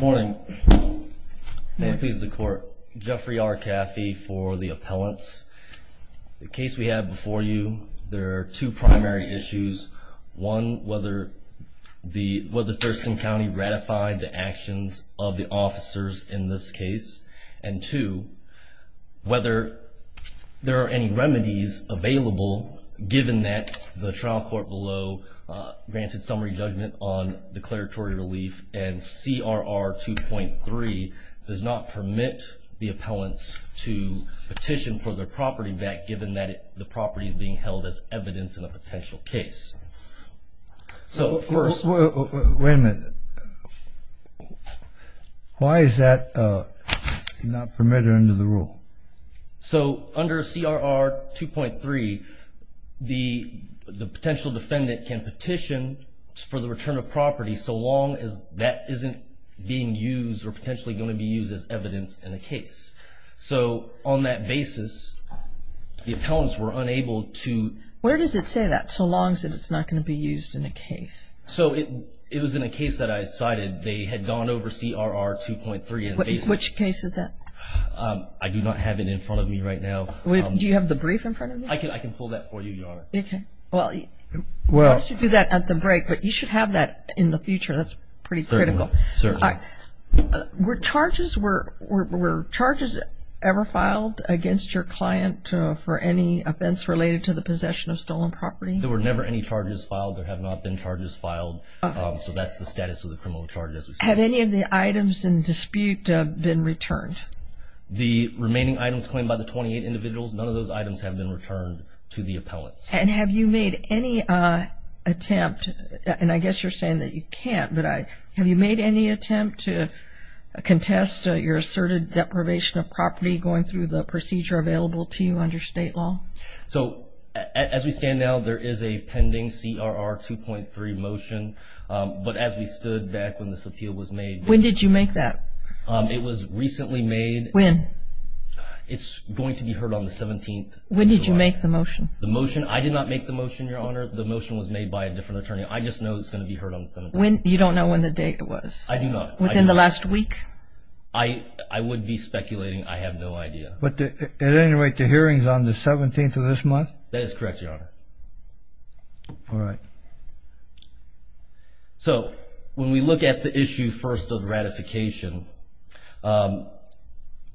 Morning. May it please the court. Jeffrey R. Caffey for the appellants. The case we have before you, there are two primary issues. One, whether the, whether Thurston County ratified the actions of the officers in this case. And two, whether there are any remedies available given that the trial court below granted summary judgment on declaratory relief and CRR 2.3 does not permit the appellants to petition for their property back given that the property is being held as evidence in a potential case. So first... Wait a minute. Why is that not permitted under the rule? So under CRR 2.3 the potential defendant can petition for the return of property so long as that isn't being used or potentially going to be used as evidence in a case. So on that basis the appellants were unable to... Where does it say that, so long as it's not going to be used in a case? So it was in a case that I decided they had gone over CRR 2.3 Which case is that? I do not have it in front of me right now. Do you have the brief in front of you? I can pull that for you, Your Honor. Okay. Well, why don't you do that at the break, but you should have that in the future. That's pretty critical. Were charges ever filed against your client for any offense related to the possession of stolen property? There were never any charges filed. There have not been charges filed. So that's the status of the criminal charges. Have any of the items in dispute been returned? The remaining items claimed by the 28 individuals, none of those items have been returned to the appellants. And have you made any attempt, and I guess you're saying that you can't, but have you made any attempt to contest your asserted deprivation of property going through the procedure available to you under state law? So as we stand now there is a pending CRR 2.3 motion, but as we stood back when this appeal was made... When did you make that? It was recently made. When? It's going to be heard on the 17th. When did you make the motion? The motion? I did not make the motion, Your Honor. The motion was made by a different attorney. I just know it's going to be heard on the 17th. When? You don't know when the date was? I do not. Within the last week? I would be speculating. I have no idea. But at any rate, the hearing is on the 17th of this month? That is correct, Your Honor. All right. So when we look at the issue first of ratification,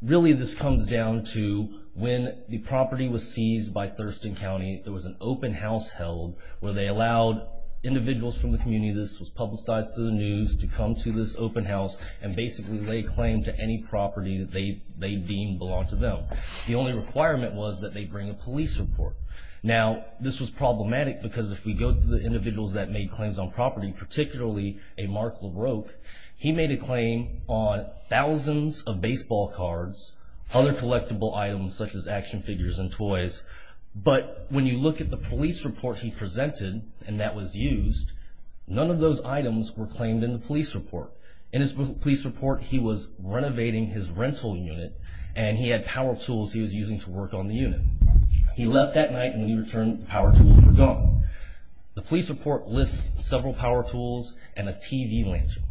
really this comes down to when the property was seized by Thurston County, there was an open house held where they allowed individuals from the community, this was publicized through the news, to come to this open house and basically lay claim to any property that they deemed belonged to them. The only requirement was that they bring a police report. Now this was problematic because if we go to the individuals that made claims on property, particularly a Mark LaRocque, he made a claim on thousands of baseball cards, other collectible items such as action figures and toys, but when you look at the police report he presented and that was used, none of those items were claimed in the police report. In his police report, he was renovating his rental unit and he had power tools he was using to work on the unit. He left that night and he returned the power tools were gone. The police report lists several power tools and a TV lantern.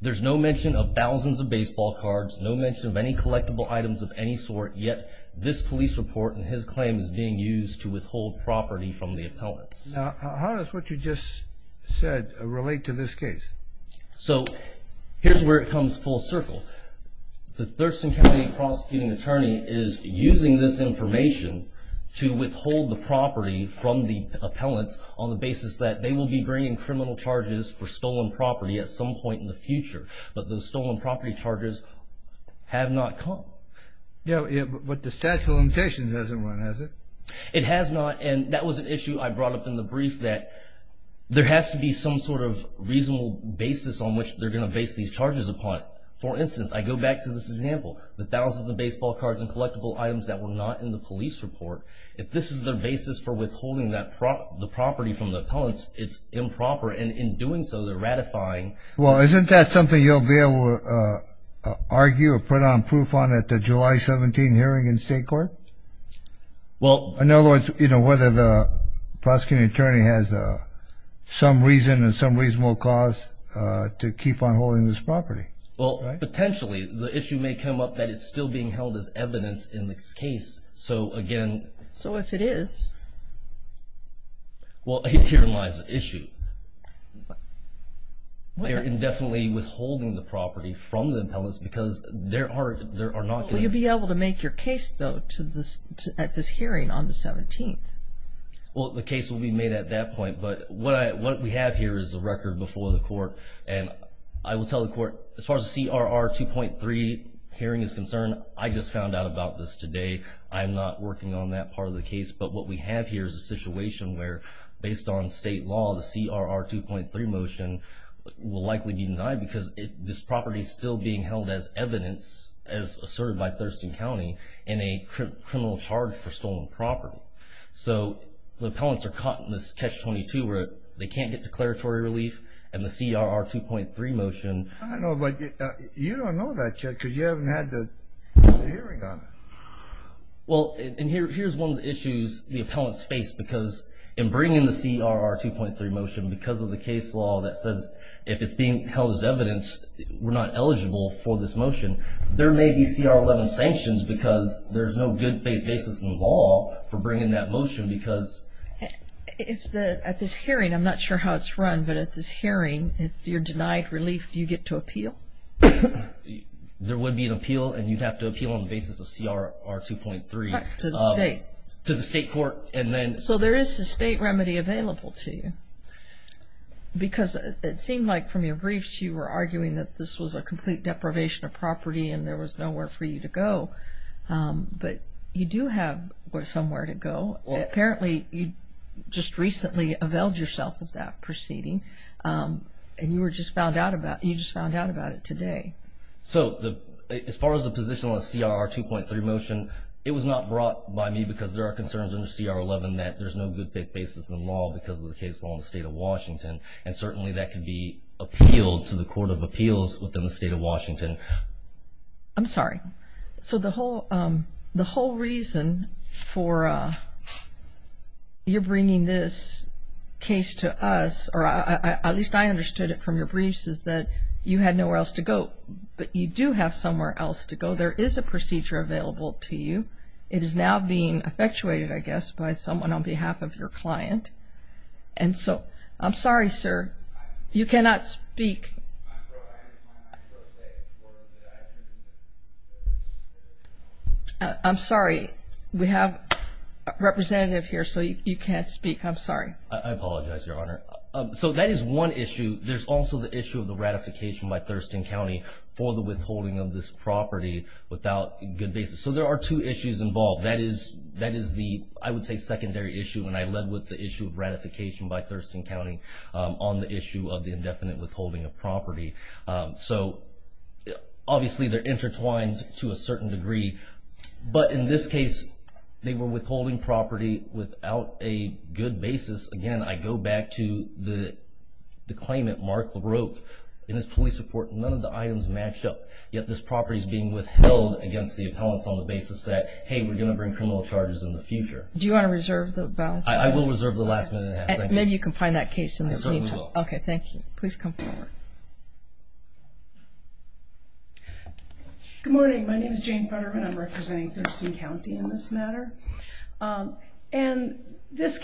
There's no mention of thousands of baseball cards, no mention of any collectible items of any sort, yet this police report and his claim is being used to withhold property from the appellants. Now how does what you just said relate to this case? So here's where it comes full circle. The Thurston County prosecuting attorney is using this information to withhold the property from the appellants on the basis that they will be bringing criminal charges for stolen property at some point in the future, but the stolen property charges have not come. Yeah, but the statute of limitations hasn't run, has it? It has not and that was an issue I brought up in the brief that there has to be some sort of reasonable basis on which they're going to base these charges upon. For instance, I go back to this example, the thousands of baseball cards and collectible items that were not in the police report. If this is their basis for withholding the property from the appellants, it's improper and in doing so they're ratifying... Well isn't that something you'll be able to argue or put on proof on at the July 17 hearing in state court? Well... In other words, you know, whether the prosecuting attorney has some reason and some reasonable cause to keep on holding this property. Well, potentially the issue may come up that it's still being held as evidence in this case, so again... So if it is? Well, herein lies the issue. They're indefinitely withholding the property from the appellants because there are not... Will you be able to make your case though at this hearing on the 17th? Well, the case will be made at that point, but what we have here is a record before the court and I will tell the court as far as the CRR 2.3 hearing is concerned, I just found out about this today. I'm not working on that part of the case, but what we have here is a situation where based on state law, the CRR 2.3 motion will likely be denied because this property is still being held as evidence, as asserted by Thurston County, in a criminal charge for stolen property. So the appellants are caught in this catch 22 where they can't get declaratory relief and the CRR 2.3 motion... I know, but you don't know that yet because you haven't had the hearing on it. Well, and here's one of the issues the appellants face because in bringing the CRR 2.3 motion, because of the case law that says if it's being held as evidence, we're not eligible for this motion, there may be CR 11 sanctions because there's no good faith basis in law for bringing that motion because... At this hearing, I'm not sure how it's run, but at this hearing, if you're denied relief, do you get to appeal? There would be an appeal and you'd have to appeal on the basis of CRR 2.3. To the state. To the state court and then... So there is a state remedy available to you because it seemed like from your briefs you were arguing that this was a complete deprivation of property and there was nowhere for you to go, but you do have somewhere to go. Apparently you just recently availed yourself of that proceeding and you were just found out about... You just found out about it today. So as far as the position on the CRR 2.3 motion, it was not brought by me because there are concerns under CR 11 that there's no good faith basis in law because of the case law in the state of Washington and certainly that could be appealed to the Court of Appeals within the state of Washington. I'm sorry. So the least I understood it from your briefs is that you had nowhere else to go, but you do have somewhere else to go. There is a procedure available to you. It is now being effectuated, I guess, by someone on behalf of your client. And so, I'm sorry, sir. You cannot speak. I'm sorry. We have a representative here, so you can't speak. I'm sorry. I apologize, Your Honor. So that is one issue. There's also the issue of the ratification by Thurston County for the withholding of this property without good basis. So there are two issues involved. That is the, I would say, secondary issue, and I led with the issue of ratification by Thurston County on the issue of the indefinite withholding of property. So obviously they're intertwined to a certain degree, but in this case, they were withholding property without a good basis. Again, I go back to the claimant, Mark LaRocque, in his police report. None of the items matched up, yet this property is being withheld against the appellants on the basis that, hey, we're going to bring criminal charges in the future. Do you want to reserve the balance? I will reserve the last minute. Maybe you can find that case in this meeting. Okay, thank you. Please come forward. Good morning, Your Honor. Good morning, Your Honor. I'm here on behalf of Thurston County in this matter. And this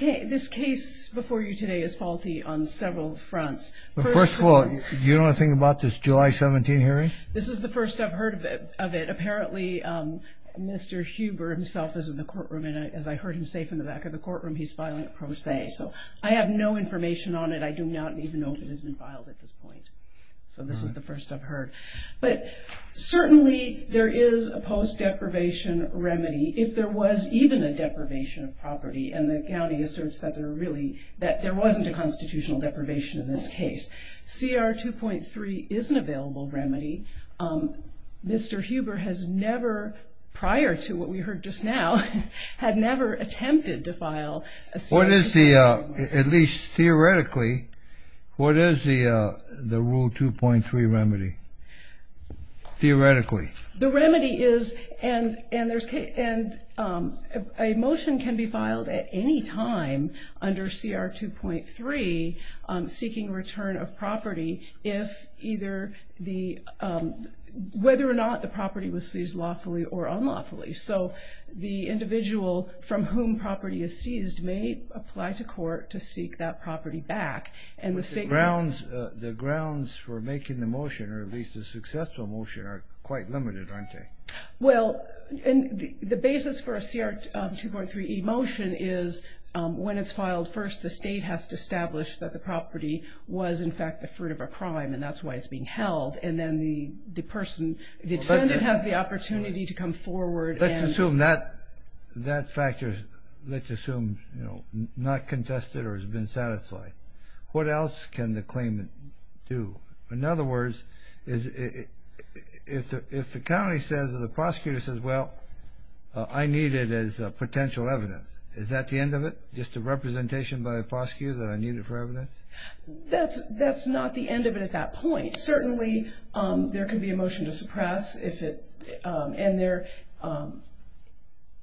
case before you today is faulty on several fronts. First of all, do you know anything about this July 17 hearing? This is the first I've heard of it. Apparently, Mr. Huber himself is in the courtroom, and as I heard him say from the back of the courtroom, he's filing a pro se. So I have no information on it. I do not even know if it has been filed at this point. So this is the first I've heard. But certainly there is a post-deprivation remedy if there was even a deprivation of property, and the county asserts that there really wasn't a constitutional deprivation in this case. CR 2.3 is an available remedy. Mr. Huber has never, prior to what we heard just now, had never attempted to file a CR 2.3. What is the, at least theoretically, what is the Rule 2.3 remedy, theoretically? The remedy is that there is, and a motion can be filed at any time under CR 2.3 seeking return of property if either the, whether or not the property was seized lawfully or unlawfully. So the individual from whom property is seized may apply to court to seek that property back. And the state... The grounds for making the motion, or at least a successful motion, are quite limited, aren't they? Well, and the basis for a CR 2.3e motion is when it's filed, first the state has to establish that the property was in fact the fruit of a crime, and that's why it's being held. And then the person, the defendant has the opportunity to come forward and... Let's assume that factor, let's assume, you know, not contested or has been satisfied. What else can the claimant do? In other words, if the county says, or the prosecutor says, well, I need it as potential evidence, is that the end of it? Just a representation by the prosecutor that I need it for evidence? That's not the end of it at that point. Certainly, there can be a motion to suppress if it, and there,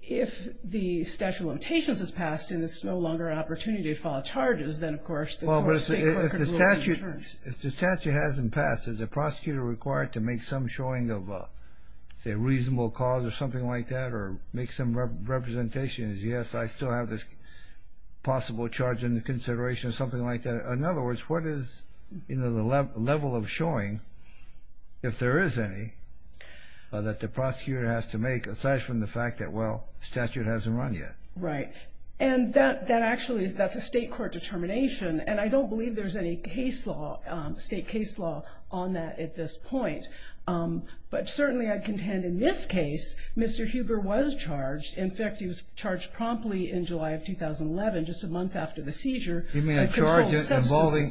if the statute of limitations is passed and there's no longer opportunity to file charges, then, of course, the state court could rule... Well, but if the statute hasn't passed, is the prosecutor required to make some showing of, say, reasonable cause or something like that, or make some representations? Yes, I still have this possible charge under consideration, something like that. In other words, what is, you know, the level of showing, if there is any, that the prosecutor has to make, aside from the fact that, well, the statute hasn't run yet. Right. And that actually, that's a state court determination, and I don't believe there's any case law, state case law on that at this point. But certainly, I contend in this case, Mr. Huber was charged. In fact, he was charged promptly in July of 2011, just a month after the seizure. You mean a charge involving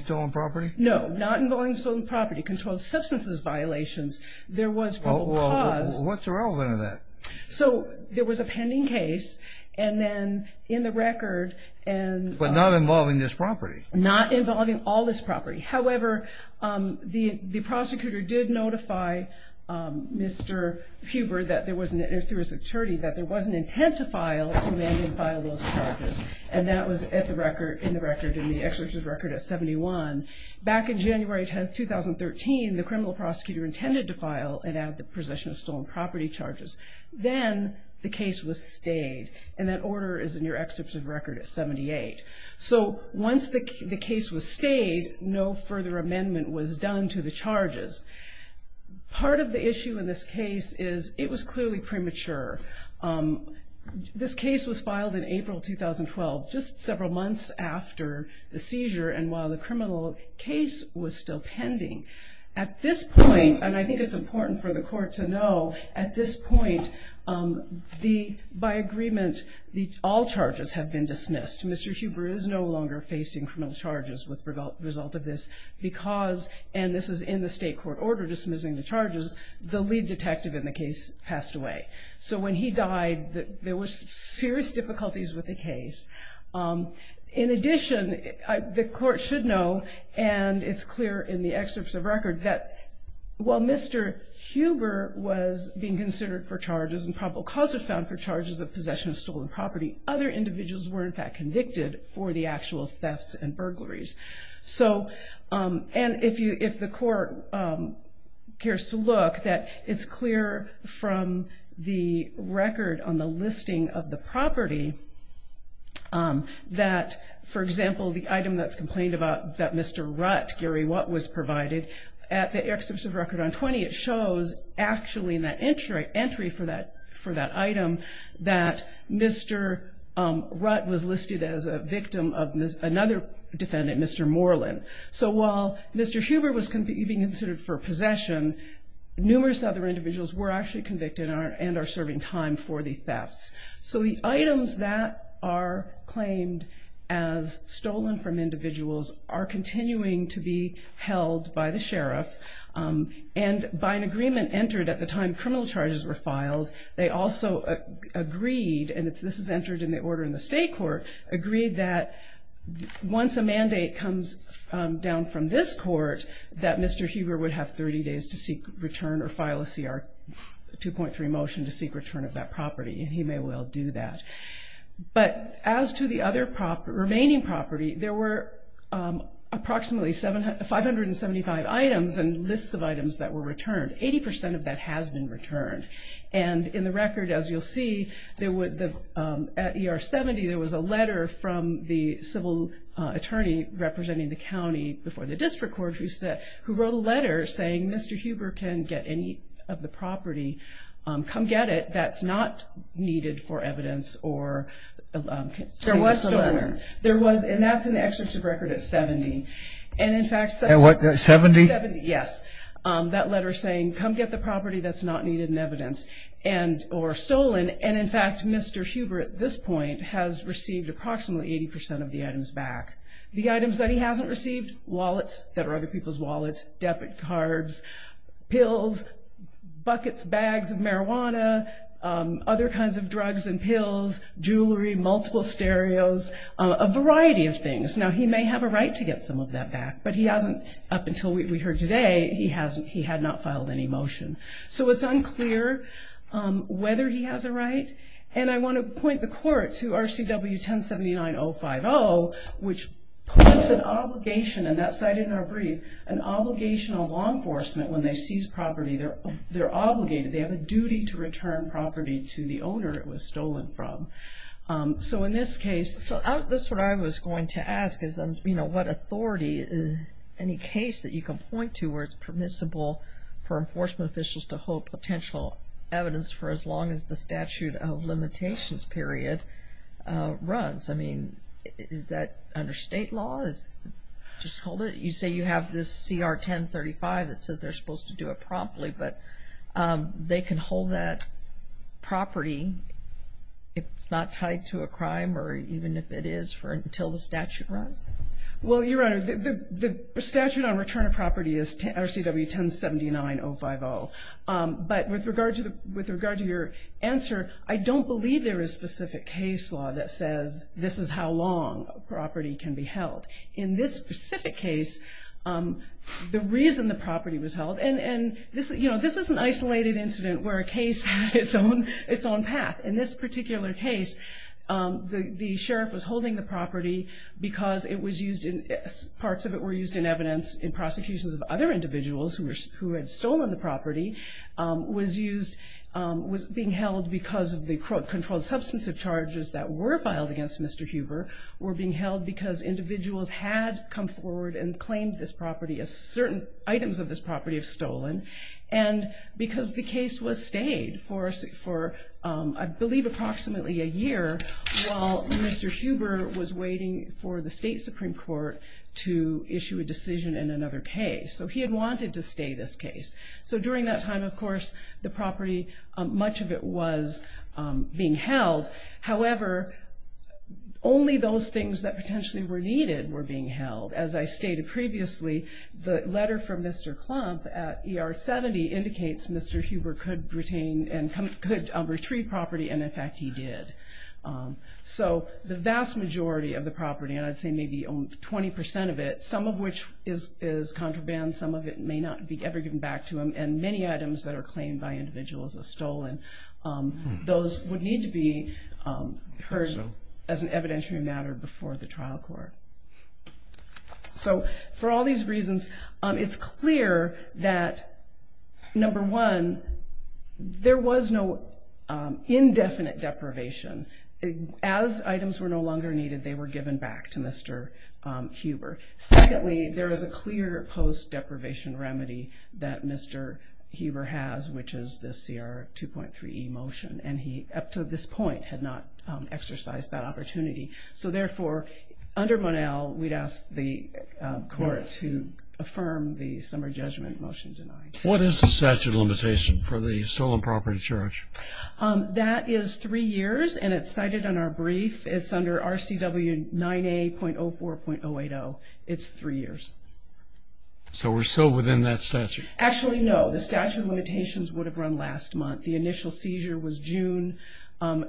stolen property? No, not involving stolen property. Controlled substances violations. There was probable cause. Well, what's the relevant of that? So, there was a pending case, and then, in the record, and... But not involving this property? Not involving all this property. However, the prosecutor did notify Mr. Huber that there was an, if there was an attorney, that there was an intent to file, to manually file those charges. And that was at the record, in the record, in the possession of stolen property charges. Then, the case was stayed. And that order is in your excerpt of record at 78. So, once the case was stayed, no further amendment was done to the charges. Part of the issue in this case is, it was clearly premature. This case was filed in April 2012, just several months after the seizure, and while the criminal case was still pending. At this point, and I think it's important for the court to know, at this point, the, by agreement, all charges have been dismissed. Mr. Huber is no longer facing criminal charges with result of this, because, and this is in the state court order dismissing the charges, the lead detective in the case passed away. So, when he died, there was serious difficulties with the case. In addition, the court should know, and it's clear in the excerpts of record, that while Mr. Huber was being considered for charges, and probable cause was found for charges of possession of stolen property, other individuals were, in fact, convicted for the actual thefts and burglaries. So, and if you, if the court cares to look, that it's clear from the record on the listing of the property that, for example, the item that's provided, at the excerpts of record on 20, it shows, actually, in that entry, entry for that, for that item, that Mr. Rutt was listed as a victim of another defendant, Mr. Moreland. So, while Mr. Huber was being considered for possession, numerous other individuals were actually convicted and are, and are serving time for the thefts. So, the items that are claimed as stolen from the property were held by the sheriff, and by an agreement entered at the time criminal charges were filed, they also agreed, and this is entered in the order in the state court, agreed that once a mandate comes down from this court, that Mr. Huber would have 30 days to seek return or file a CR 2.3 motion to seek return of that property, and he may well do that. But, as to the other property, remaining property, there were approximately 575 items and lists of items that were returned. Eighty percent of that has been returned. And, in the record, as you'll see, there would, at ER 70, there was a letter from the civil attorney representing the county before the district court, who wrote a letter saying Mr. Huber can get any of the property, come get it, that's not needed for evidence, or... There was a letter. There was, and that's in the excerpt of record at 70. And, in fact... At what, 70? 70, yes. That letter saying, come get the property that's not needed in evidence, and, or stolen, and in fact, Mr. Huber, at this point, has received approximately 80 percent of the items back. The items that he hasn't received, wallets that are other people's wallets, debit cards, pills, buckets, bags of drugs and pills, jewelry, multiple stereos, a variety of things. Now, he may have a right to get some of that back, but he hasn't, up until we heard today, he had not filed any motion. So, it's unclear whether he has a right, and I want to point the court to RCW 1079-050, which puts an obligation, and that's cited in our brief, an obligation on law enforcement when they seize property, they're obligated, they have a duty to return property to the owner it was stolen from. So, in this case... So, that's what I was going to ask, is, you know, what authority, any case that you can point to where it's permissible for enforcement officials to hold potential evidence for as long as the statute of limitations period runs. I mean, is that under state law? Just hold it. You say you have this CR 1035 that says they're supposed to do it promptly, but they can hold that property if it's not tied to a crime, or even if it is until the statute runs? Well, Your Honor, the statute on return of property is RCW 1079-050, but with regard to your answer, I don't believe there is specific case law that says this is how long a property can be held. In this specific case, the reason the property was held, and, you know, this is an isolated incident where a case had its own path. In this particular case, the sheriff was holding the property because it was used, parts of it were used in evidence in prosecutions of other individuals who had stolen the property, was used, was being held because of the controlled substantive charges that were filed against Mr. Huber, were being held because individuals had come forward and claimed this property was stolen, and because the case was stayed for, I believe, approximately a year while Mr. Huber was waiting for the state Supreme Court to issue a decision in another case. So he had wanted to stay this case. So during that time, of course, the property, much of it was being held. However, only those things that potentially were needed were being held. As I stated previously, the letter from Mr. Klump at ER 70 indicates Mr. Huber could retain and could retrieve property, and, in fact, he did. So the vast majority of the property, and I'd say maybe 20% of it, some of which is contraband, some of it may not be ever given back to him, and many items that are claimed by individuals as stolen, those would need to be heard as an evidentiary matter before the trial court. So for all these reasons, it's clear that, number one, there was no indefinite deprivation. As items were no longer needed, they were given back to Mr. Huber. Secondly, there is a clear post deprivation remedy that Mr. Huber has, which is the CR 2.3E motion, and he, up to this point, had not exercised that opportunity. So, therefore, under Monell, we'd ask the court to affirm the summer judgment motion denied. What is the statute of limitation for the stolen property charge? That is three years, and it's cited in our brief. It's under RCW 9A.04.080. It's three years. So we're still within that statute? Actually, no. The statute of limitations would have run last month. The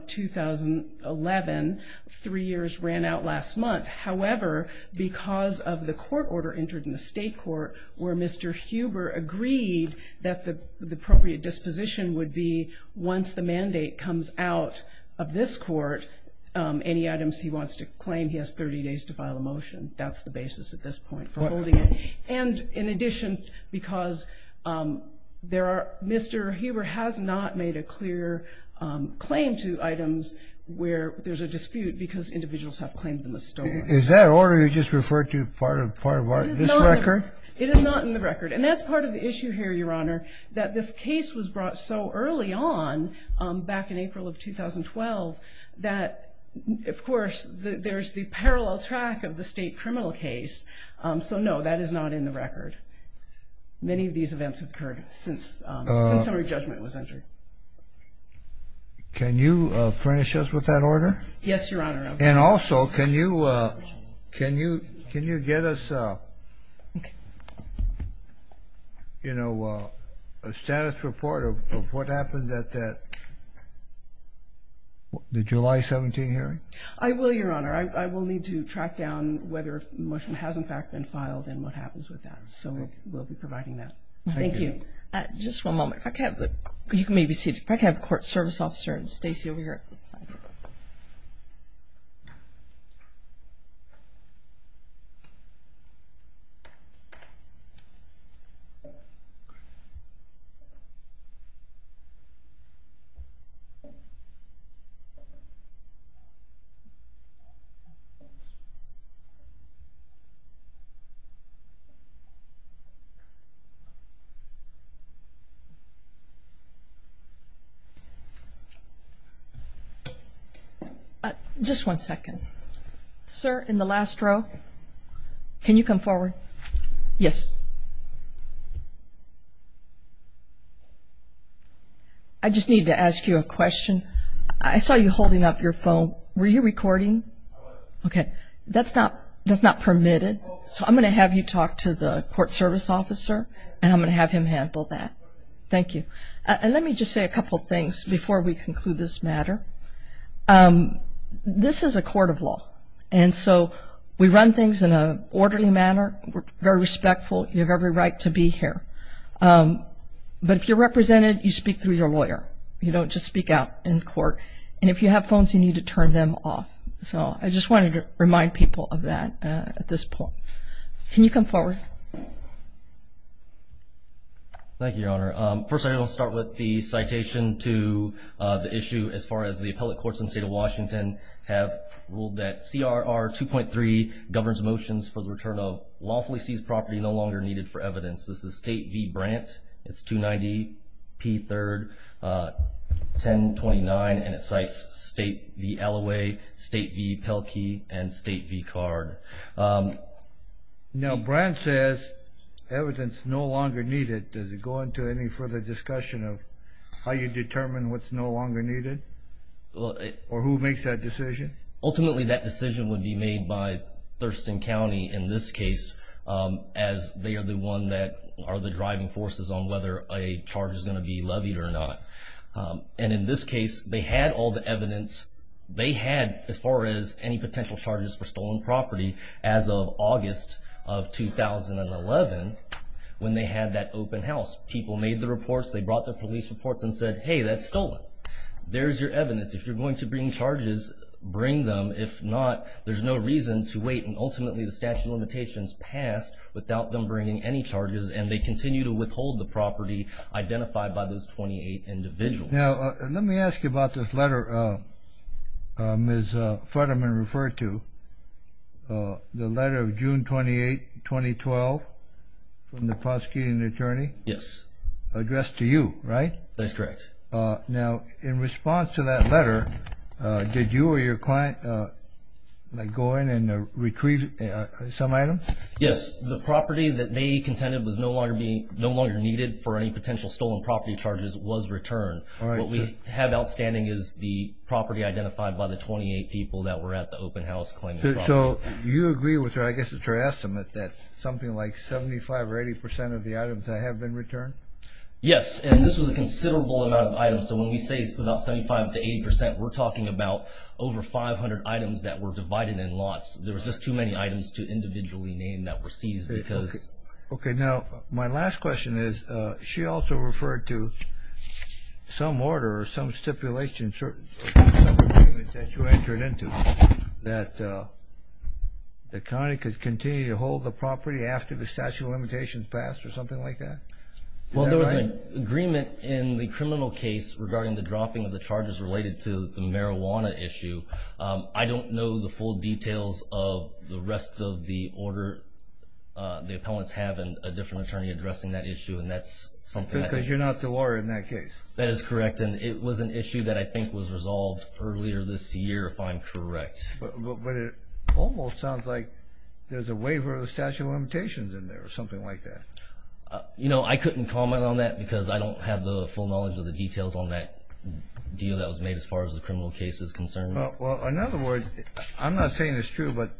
2011, three years, ran out last month. However, because of the court order entered in the state court where Mr. Huber agreed that the appropriate disposition would be once the mandate comes out of this court, any items he wants to claim, he has 30 days to file a motion. That's the basis at this point for holding it. And in addition, because Mr. Huber has not made a clear claim to items where there's a dispute because individuals have claimed them as stolen. Is that order you just referred to part of this record? It is not in the record. And that's part of the issue here, Your Honor, that this case was brought so early on, back in April of 2012, that, of course, there's the parallel track of the state criminal case. So no, that is not in the record. Many of these events have occurred since our judgment was entered. Can you furnish us with that order? Yes, Your Honor. And also, can you get us a status report of what happened at that July 17 hearing? I will, Your Honor. I will need to track down whether a motion has, in fact, been filed and what happens with that. So we'll be providing that. Thank you. Thank you. Just one moment. You can maybe sit. We should probably have the court service officer, Stacey, over here at this side. Just one second. Sir, in the last row, can you come forward? Yes. I just need to ask you a question. I saw you holding up your phone. Were you recording? I was. Okay. That's not permitted, so I'm going to have you talk to the court service officer, and I'm going to have him handle that. Thank you. And let me just say a couple things before we conclude this matter. This is a court of law, and so we run things in an orderly manner. We're very respectful. You have every right to be here. But if you're represented, you speak through your lawyer. You don't just speak out in court. And if you have phones, you need to turn them off. So I just wanted to remind people of that at this point. Can you come forward? Thank you, Your Honor. First, I want to start with the citation to the issue as far as the appellate courts in the State of Washington have ruled that CRR 2.3 governs motions for the return of lawfully seized property no longer needed for evidence. This is State v. Brandt. It's 290p3-1029, and it cites State v. Alloway, State v. Pelkey, and State v. Card. Now, Brandt says evidence no longer needed. Does it go into any further discussion of how you determine what's no longer needed or who makes that decision? Ultimately, that decision would be made by Thurston County in this case as they are the one that are the driving forces on whether a charge is going to be levied or not. And in this case, they had all the evidence. They had, as far as any potential charges for stolen property, as of August of 2011 when they had that open house. People made the reports. They brought the police reports and said, hey, that's stolen. There's your evidence. If you're going to bring charges, bring them. If not, there's no reason to wait. And ultimately, the statute of limitations passed without them bringing any charges, and they continue to withhold the property identified by those 28 individuals. Now, let me ask you about this letter Ms. Futterman referred to, the letter of 28-2012 from the prosecuting attorney? Yes. Addressed to you, right? That's correct. Now, in response to that letter, did you or your client go in and retrieve some items? Yes. The property that they contended was no longer needed for any potential stolen property charges was returned. What we have outstanding is the property identified by the 28 people that were at the open house claiming the property. So you agree with her. I guess it's your estimate that something like 75 or 80 percent of the items that have been returned? Yes. And this was a considerable amount of items. So when we say it's about 75 to 80 percent, we're talking about over 500 items that were divided in lots. There was just too many items to individually name that were seized because Okay. Now, my last question is, she also referred to some order or some stipulation that you entered into that the county could continue to hold the property after the statute of limitations passed or something like that? Well, there was an agreement in the criminal case regarding the dropping of the charges related to the marijuana issue. I don't know the full details of the rest of the order the appellants have and a different attorney addressing that issue, and that's something that Because you're not the lawyer in that case. That is correct. And it was an issue that I think was resolved earlier this year, if I'm correct. But it almost sounds like there's a waiver of the statute of limitations in there or something like that. You know, I couldn't comment on that because I don't have the full knowledge of the details on that deal that was made as far as the criminal case is concerned. Well, in other words, I'm not saying it's true, but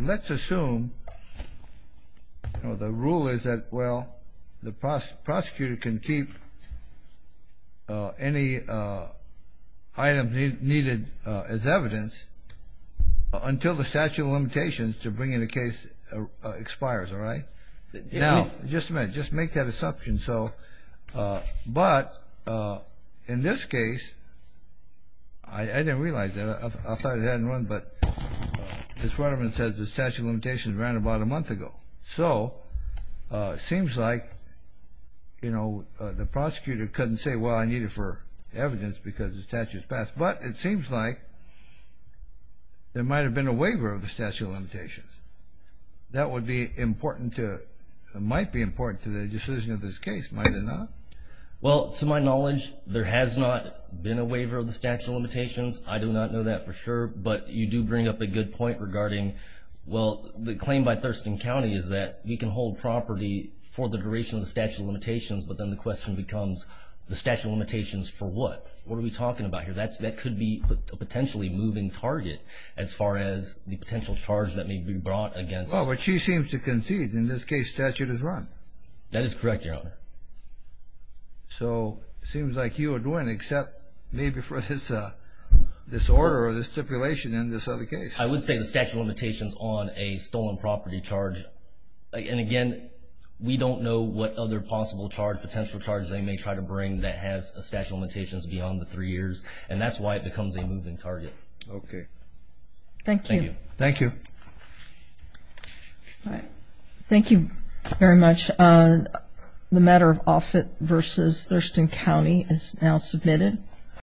let's assume the rule is that, well, the prosecutor can keep any items needed as evidence until the statute of limitations to bring in a case expires. All right? Now, just a minute. Just make that assumption. But in this case, I didn't realize that. I thought it hadn't run, but Ms. Rutterman said the statute of limitations ran about a month ago. So it seems like, you know, the prosecutor couldn't say, well, I need it for evidence because the statute has passed. But it seems like there might have been a waiver of the statute of limitations. That might be important to the decision of this case. Might it not? Well, to my knowledge, there has not been a waiver of the statute of limitations. I do not know that for sure. But you do bring up a good point regarding, well, the claim by Thurston County is that you can hold property for the duration of the statute of limitations, but then the question becomes the statute of limitations for what? What are we talking about here? That could be a potentially moving target as far as the potential charge that may be brought against. Well, but she seems to concede. In this case, statute is run. That is correct, Your Honor. So it seems like you would win except maybe for this order or this stipulation in this other case. I would say the statute of limitations on a stolen property charge. And, again, we don't know what other possible charge, potential charge they may try to bring that has a statute of limitations beyond the three years. And that's why it becomes a moving target. Okay. Thank you. Thank you. All right. Thank you very much. The matter of Offutt v. Thurston County is now submitted.